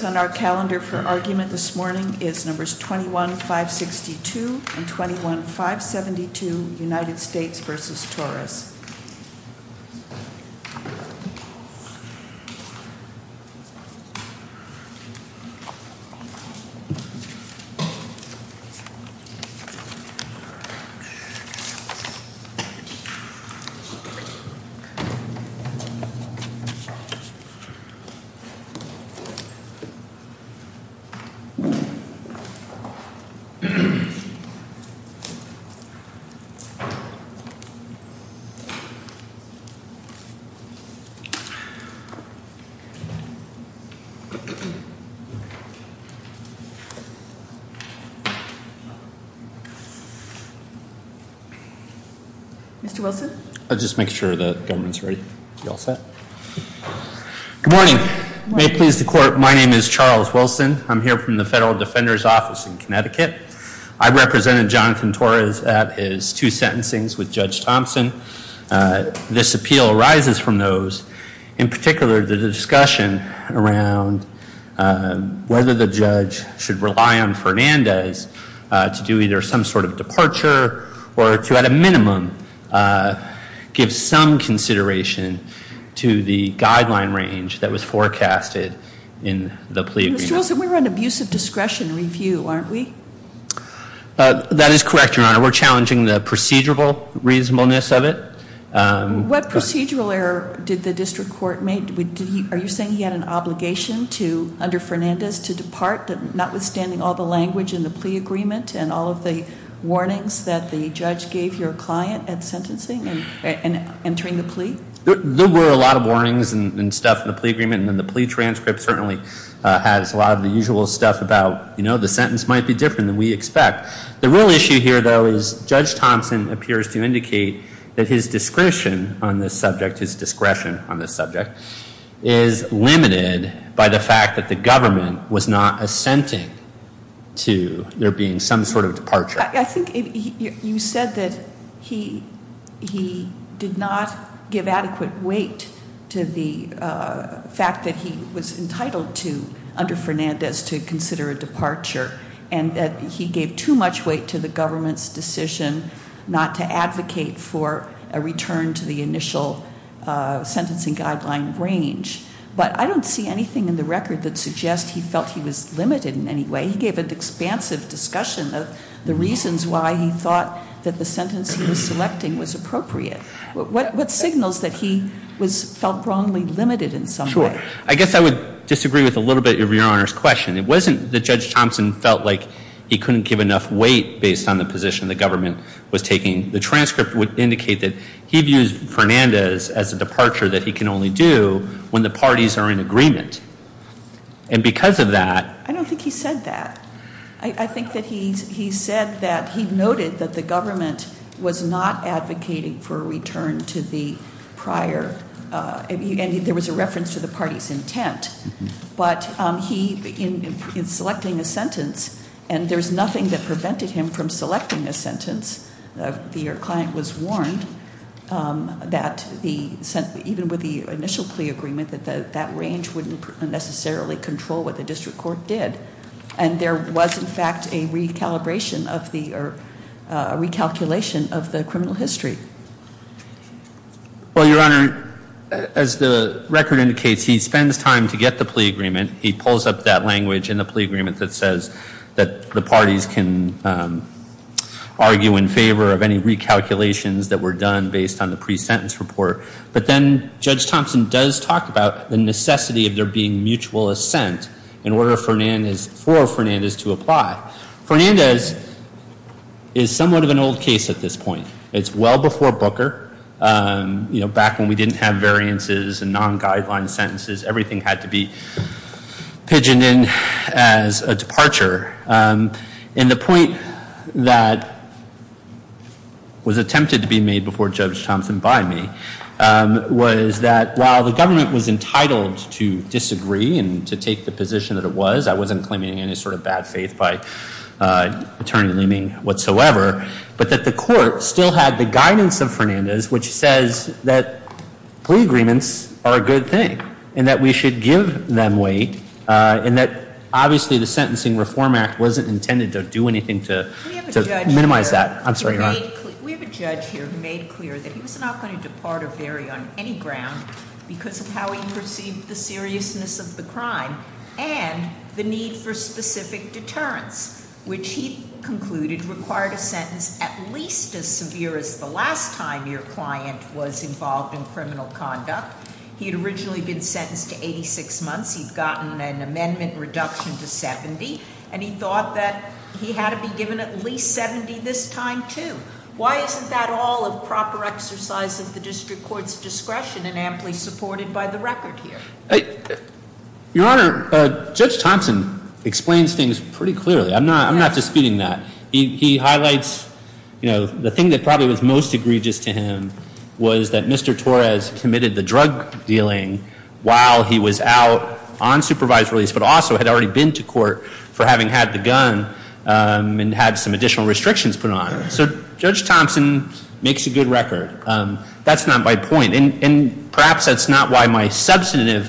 The pages on our calendar for argument this morning is numbers 21-562 and 21-572 United States v. Torres. Mr. Wilson? I'm just making sure that the government is ready. You all set? Good morning. May it please the court, my name is Charles Wilson. I'm here from the Federal Defender's Office in Connecticut. I represented Jonathan Torres at his two sentencings with Judge Thompson. This appeal arises from those, in particular the discussion around whether the judge should rely on Fernandez to do either some sort of departure or to at a minimum give some consideration to the guideline range that was forecasted in the plea agreement. Mr. Wilson, we're on abusive discretion review, aren't we? That is correct, Your Honor. We're challenging the procedural reasonableness of it. What procedural error did the district court make? Are you saying he had an obligation under Fernandez to depart, notwithstanding all the language in the plea agreement and all of the warnings that the judge gave your client at sentencing and entering the plea? There were a lot of warnings and stuff in the plea agreement. And then the plea transcript certainly has a lot of the usual stuff about, you know, the sentence might be different than we expect. The real issue here, though, is Judge Thompson appears to indicate that his discretion on this subject, is limited by the fact that the government was not assenting to there being some sort of departure. I think you said that he did not give adequate weight to the fact that he was entitled to under Fernandez to consider a departure and that he gave too much weight to the government's decision not to advocate for a return to the initial sentencing guideline range. But I don't see anything in the record that suggests he felt he was limited in any way. He gave an expansive discussion of the reasons why he thought that the sentence he was selecting was appropriate. What signals that he felt wrongly limited in some way? Sure. I guess I would disagree with a little bit of Your Honor's question. It wasn't that Judge Thompson felt like he couldn't give enough weight based on the position the government was taking. The transcript would indicate that he views Fernandez as a departure that he can only do when the parties are in agreement. And because of that... I don't think he said that. I think that he said that he noted that the government was not advocating for a return to the prior... In selecting a sentence, and there's nothing that prevented him from selecting a sentence. Your client was warned that even with the initial plea agreement, that that range wouldn't necessarily control what the district court did. And there was, in fact, a recalculation of the criminal history. Well, Your Honor, as the record indicates, he spends time to get the plea agreement. He pulls up that language in the plea agreement that says that the parties can argue in favor of any recalculations that were done based on the pre-sentence report. But then Judge Thompson does talk about the necessity of there being mutual assent in order for Fernandez to apply. Fernandez is somewhat of an old case at this point. It's well before Booker. Back when we didn't have variances and non-guideline sentences, everything had to be pigeoned in as a departure. And the point that was attempted to be made before Judge Thompson by me was that while the government was entitled to disagree and to take the position that it was, I wasn't claiming any sort of bad faith by Attorney Leeming whatsoever, but that the court still had the guidance of Fernandez, which says that plea agreements are a good thing and that we should give them weight and that obviously the Sentencing Reform Act wasn't intended to do anything to minimize that. I'm sorry, Your Honor. We have a judge here who made clear that he was not going to depart or vary on any ground because of how he perceived the seriousness of the crime and the need for specific deterrence, which he concluded required a sentence at least as severe as the last time your client was involved in criminal conduct. He had originally been sentenced to 86 months. He'd gotten an amendment reduction to 70, and he thought that he had to be given at least 70 this time too. Why isn't that all a proper exercise of the district court's discretion and amply supported by the record here? Your Honor, Judge Thompson explains things pretty clearly. I'm not disputing that. He highlights, you know, the thing that probably was most egregious to him was that Mr. Torres committed the drug dealing while he was out on supervised release but also had already been to court for having had the gun and had some additional restrictions put on him. So Judge Thompson makes a good record. That's not my point. And perhaps that's not why my substantive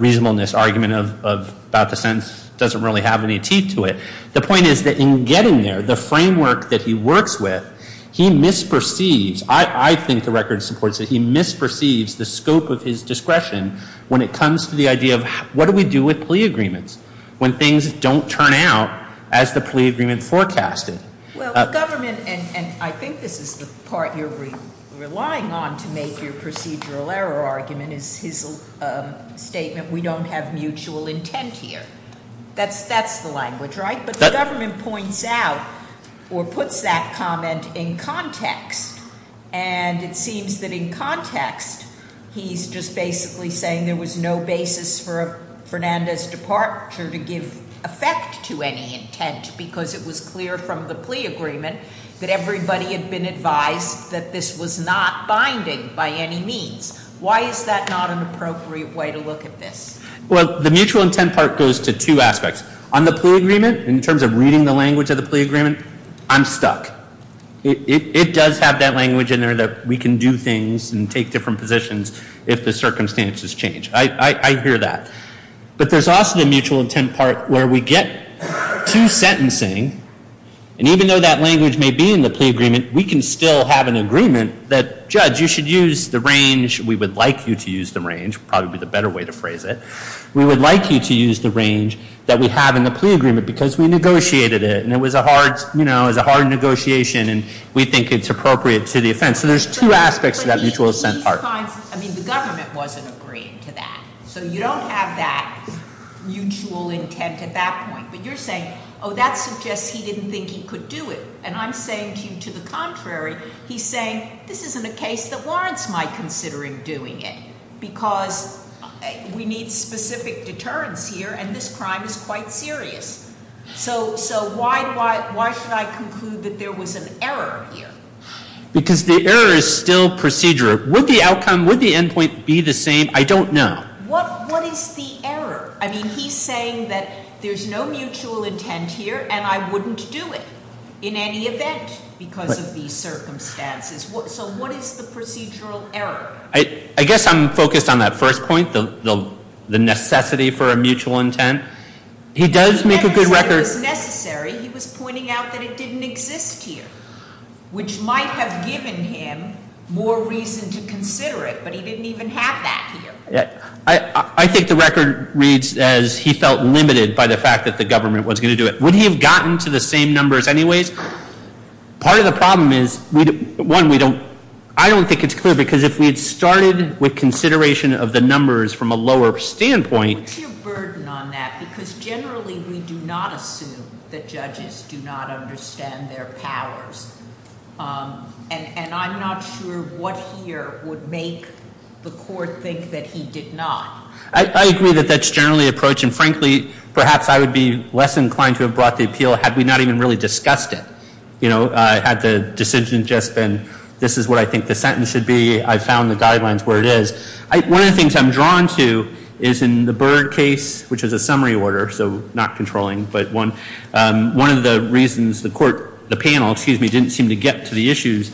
reasonableness argument about the sentence doesn't really have any teeth to it. The point is that in getting there, the framework that he works with, he misperceives. I think the record supports that he misperceives the scope of his discretion when it comes to the idea of what do we do with plea agreements when things don't turn out as the plea agreement forecasted. Well, the government, and I think this is the part you're relying on to make your procedural error argument, is his statement, we don't have mutual intent here. That's the language, right? But the government points out or puts that comment in context. And it seems that in context, he's just basically saying there was no basis for Fernandez's departure to give effect to any intent because it was clear from the plea agreement that everybody had been advised that this was not binding by any means. Why is that not an appropriate way to look at this? Well, the mutual intent part goes to two aspects. On the plea agreement, in terms of reading the language of the plea agreement, I'm stuck. It does have that language in there that we can do things and take different positions if the circumstances change. I hear that. But there's also the mutual intent part where we get to sentencing, and even though that language may be in the plea agreement, we can still have an agreement that judge, you should use the range, we would like you to use the range, probably the better way to phrase it, we would like you to use the range that we have in the plea agreement because we negotiated it and it was a hard negotiation and we think it's appropriate to the offense. So there's two aspects to that mutual intent part. The government wasn't agreeing to that. So you don't have that mutual intent at that point. But you're saying, oh, that suggests he didn't think he could do it. And I'm saying to you, to the contrary, he's saying, this isn't a case that warrants my considering doing it because we need specific deterrence here and this crime is quite serious. So why should I conclude that there was an error here? Because the error is still procedural. Would the outcome, would the end point be the same? I don't know. What is the error? I mean, he's saying that there's no mutual intent here and I wouldn't do it in any event because of these circumstances. So what is the procedural error? I guess I'm focused on that first point, the necessity for a mutual intent. He does make a good record. He never said it was necessary. He was pointing out that it didn't exist here, which might have given him more reason to consider it, but he didn't even have that here. I think the record reads as he felt limited by the fact that the government was going to do it. Would he have gotten to the same numbers anyways? Part of the problem is, one, I don't think it's clear because if we had started with consideration of the numbers from a lower standpoint. What's your burden on that? Because generally we do not assume that judges do not understand their powers. And I'm not sure what here would make the court think that he did not. I agree that that's generally the approach. And frankly, perhaps I would be less inclined to have brought the appeal had we not even really discussed it. You know, had the decision just been, this is what I think the sentence should be. I found the guidelines where it is. One of the things I'm drawn to is in the Berg case, which is a summary order, so not controlling, but one of the reasons the panel didn't seem to get to the issues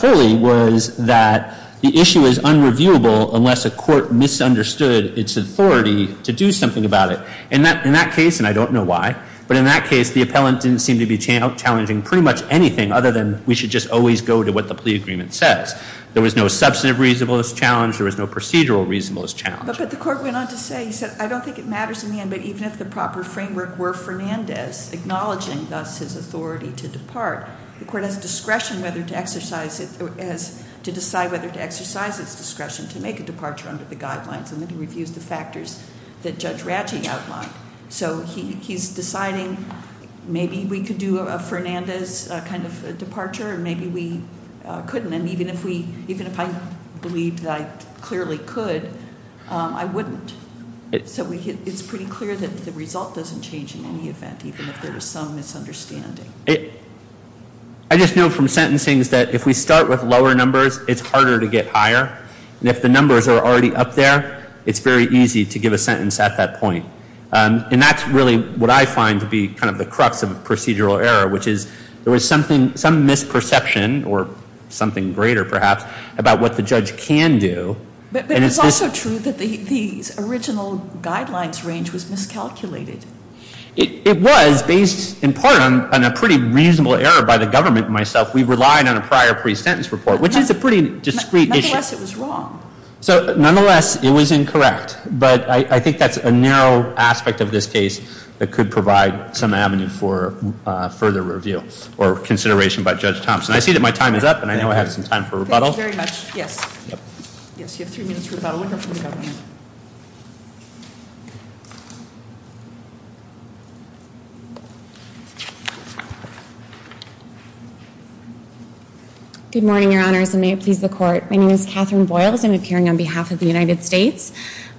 fully was that the issue is unreviewable unless a court misunderstood its authority to do something about it. In that case, and I don't know why, but in that case, the appellant didn't seem to be challenging pretty much anything other than we should just always go to what the plea agreement says. There was no substantive reasonableness challenge. There was no procedural reasonableness challenge. But the court went on to say, he said, I don't think it matters in the end, but even if the proper framework were Fernandez acknowledging thus his authority to depart, the court has discretion whether to exercise it, has to decide whether to exercise its discretion to make a departure under the guidelines. And then he reviews the factors that Judge Ratchet outlined. So he's deciding maybe we could do a Fernandez kind of departure and maybe we couldn't. And even if we, even if I believed that I clearly could, I wouldn't. So it's pretty clear that the result doesn't change in any event, even if there was some misunderstanding. I just know from sentencing that if we start with lower numbers, it's harder to get higher. And if the numbers are already up there, it's very easy to give a sentence at that point. And that's really what I find to be kind of the crux of procedural error, which is there was some misperception or something greater perhaps about what the judge can do. But it's also true that the original guidelines range was miscalculated. It was based in part on a pretty reasonable error by the government and myself. We relied on a prior pre-sentence report, which is a pretty discreet issue. Nonetheless, it was wrong. So nonetheless, it was incorrect. But I think that's a narrow aspect of this case that could provide some avenue for further review or consideration by Judge Thompson. I see that my time is up, and I know I have some time for rebuttal. Thank you very much. Yes. Yes, you have three minutes for rebuttal. We'll go from the government. Good morning, Your Honors, and may it please the Court. My name is Catherine Boyles. I'm appearing on behalf of the United States.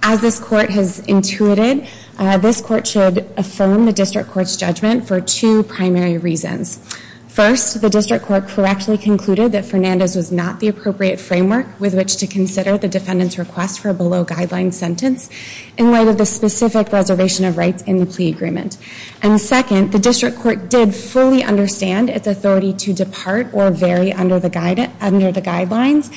As this Court has intuited, this Court should affirm the District Court's judgment for two primary reasons. First, the District Court correctly concluded that Fernandez was not the appropriate framework with which to consider the defendant's request for a below-guideline sentence in light of the specific reservation of rights in the plea agreement. And second, the District Court did fully understand its authority to depart or vary under the guidelines,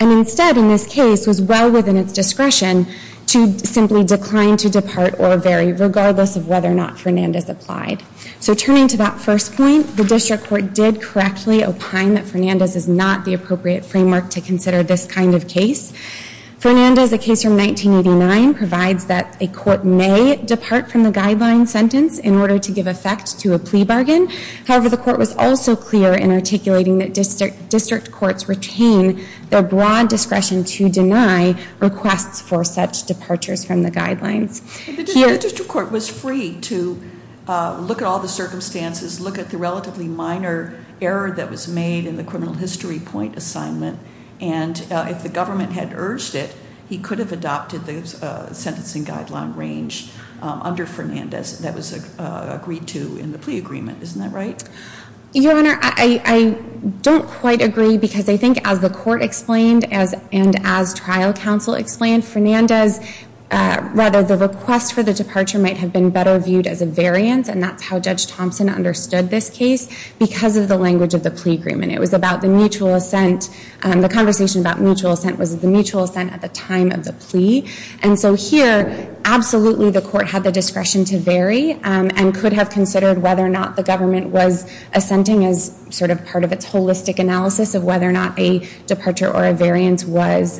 and instead, in this case, was well within its discretion to simply decline to depart or vary, regardless of whether or not Fernandez applied. So turning to that first point, the District Court did correctly opine that Fernandez is not the appropriate framework to consider this kind of case. Fernandez, a case from 1989, provides that a court may depart from the guideline sentence in order to give effect to a plea bargain. However, the Court was also clear in articulating that District Courts retain their broad discretion to deny requests for such departures from the guidelines. The District Court was free to look at all the circumstances, look at the relatively minor error that was made in the criminal history point assignment, and if the government had urged it, he could have adopted the sentencing guideline range under Fernandez that was agreed to in the plea agreement. Isn't that right? Your Honor, I don't quite agree, because I think as the Court explained and as trial counsel explained, Fernandez, rather, the request for the departure might have been better viewed as a variance, and that's how Judge Thompson understood this case, because of the language of the plea agreement. It was about the mutual assent. The conversation about mutual assent was the mutual assent at the time of the plea. And so here, absolutely, the Court had the discretion to vary, and could have considered whether or not the government was assenting as sort of part of its holistic analysis of whether or not a departure or a variance was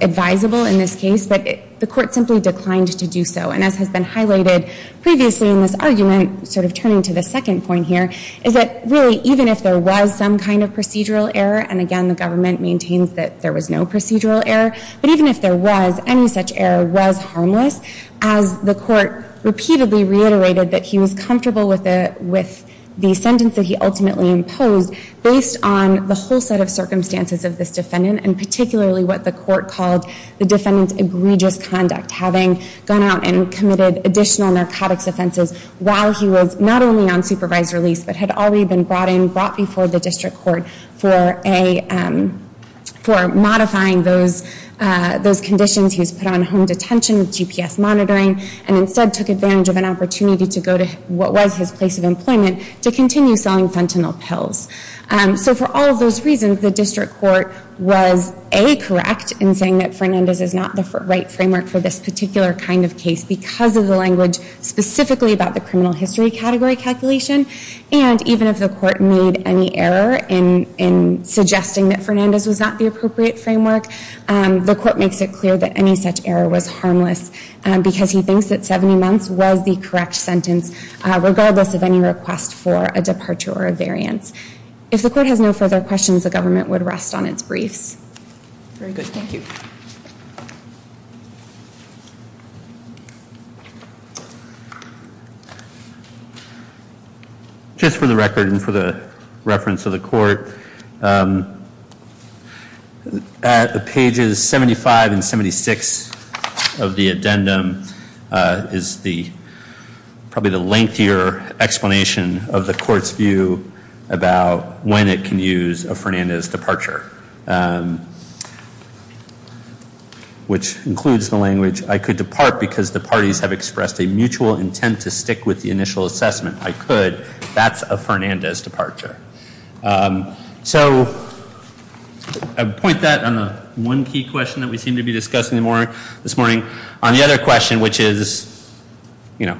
advisable in this case, but the Court simply declined to do so. And as has been highlighted previously in this argument, sort of turning to the second point here, is that really, even if there was some kind of procedural error, and again, the government maintains that there was no procedural error, but even if there was, any such error was harmless, as the Court repeatedly reiterated that he was comfortable with the sentence that he ultimately imposed, based on the whole set of circumstances of this defendant, and particularly what the Court called the defendant's egregious conduct, having gone out and committed additional narcotics offenses while he was not only on supervised release, but had already been brought in, brought before the District Court, for modifying those conditions. He was put on home detention with GPS monitoring, and instead took advantage of an opportunity to go to what was his place of employment, to continue selling fentanyl pills. So for all of those reasons, the District Court was A, correct in saying that Fernandez is not the right framework for this particular kind of case, because of the language specifically about the criminal history category calculation, and even if the Court made any error in suggesting that Fernandez was not the appropriate framework, the Court makes it clear that any such error was harmless, because he thinks that 70 months was the correct sentence, regardless of any request for a departure or a variance. If the Court has no further questions, the government would rest on its briefs. Very good. Thank you. Just for the record and for the reference of the Court, pages 75 and 76 of the addendum is probably the lengthier explanation of the Court's view about when it can use a Fernandez departure, which includes the language, I could depart because the parties have expressed a mutual intent to stick with the initial assessment. I could. That's a Fernandez departure. So I would point that on the one key question that we seem to be discussing more this morning. On the other question, which is, you know,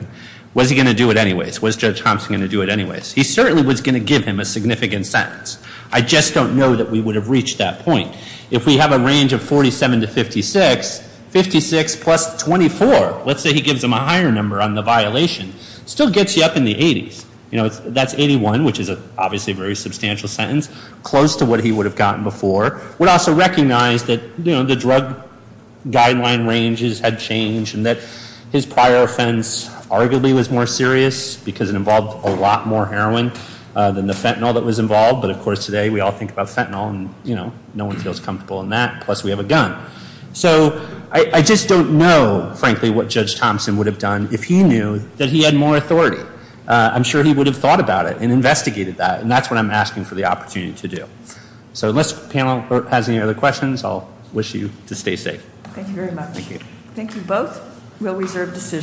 was he going to do it anyways? Was Judge Thompson going to do it anyways? He certainly was going to give him a significant sentence. I just don't know that we would have reached that point. If we have a range of 47 to 56, 56 plus 24, let's say he gives him a higher number on the violation, still gets you up in the 80s. You know, that's 81, which is obviously a very substantial sentence, close to what he would have gotten before. Would also recognize that, you know, the drug guideline ranges had changed and that his prior offense arguably was more serious because it involved a lot more heroin than the fentanyl that was involved. But, of course, today we all think about fentanyl and, you know, no one feels comfortable in that, plus we have a gun. So I just don't know, frankly, what Judge Thompson would have done if he knew that he had more authority. I'm sure he would have thought about it and investigated that. And that's what I'm asking for the opportunity to do. So unless the panel has any other questions, I'll wish you to stay safe. Thank you very much. Thank you. Thank you both. We'll reserve decisions.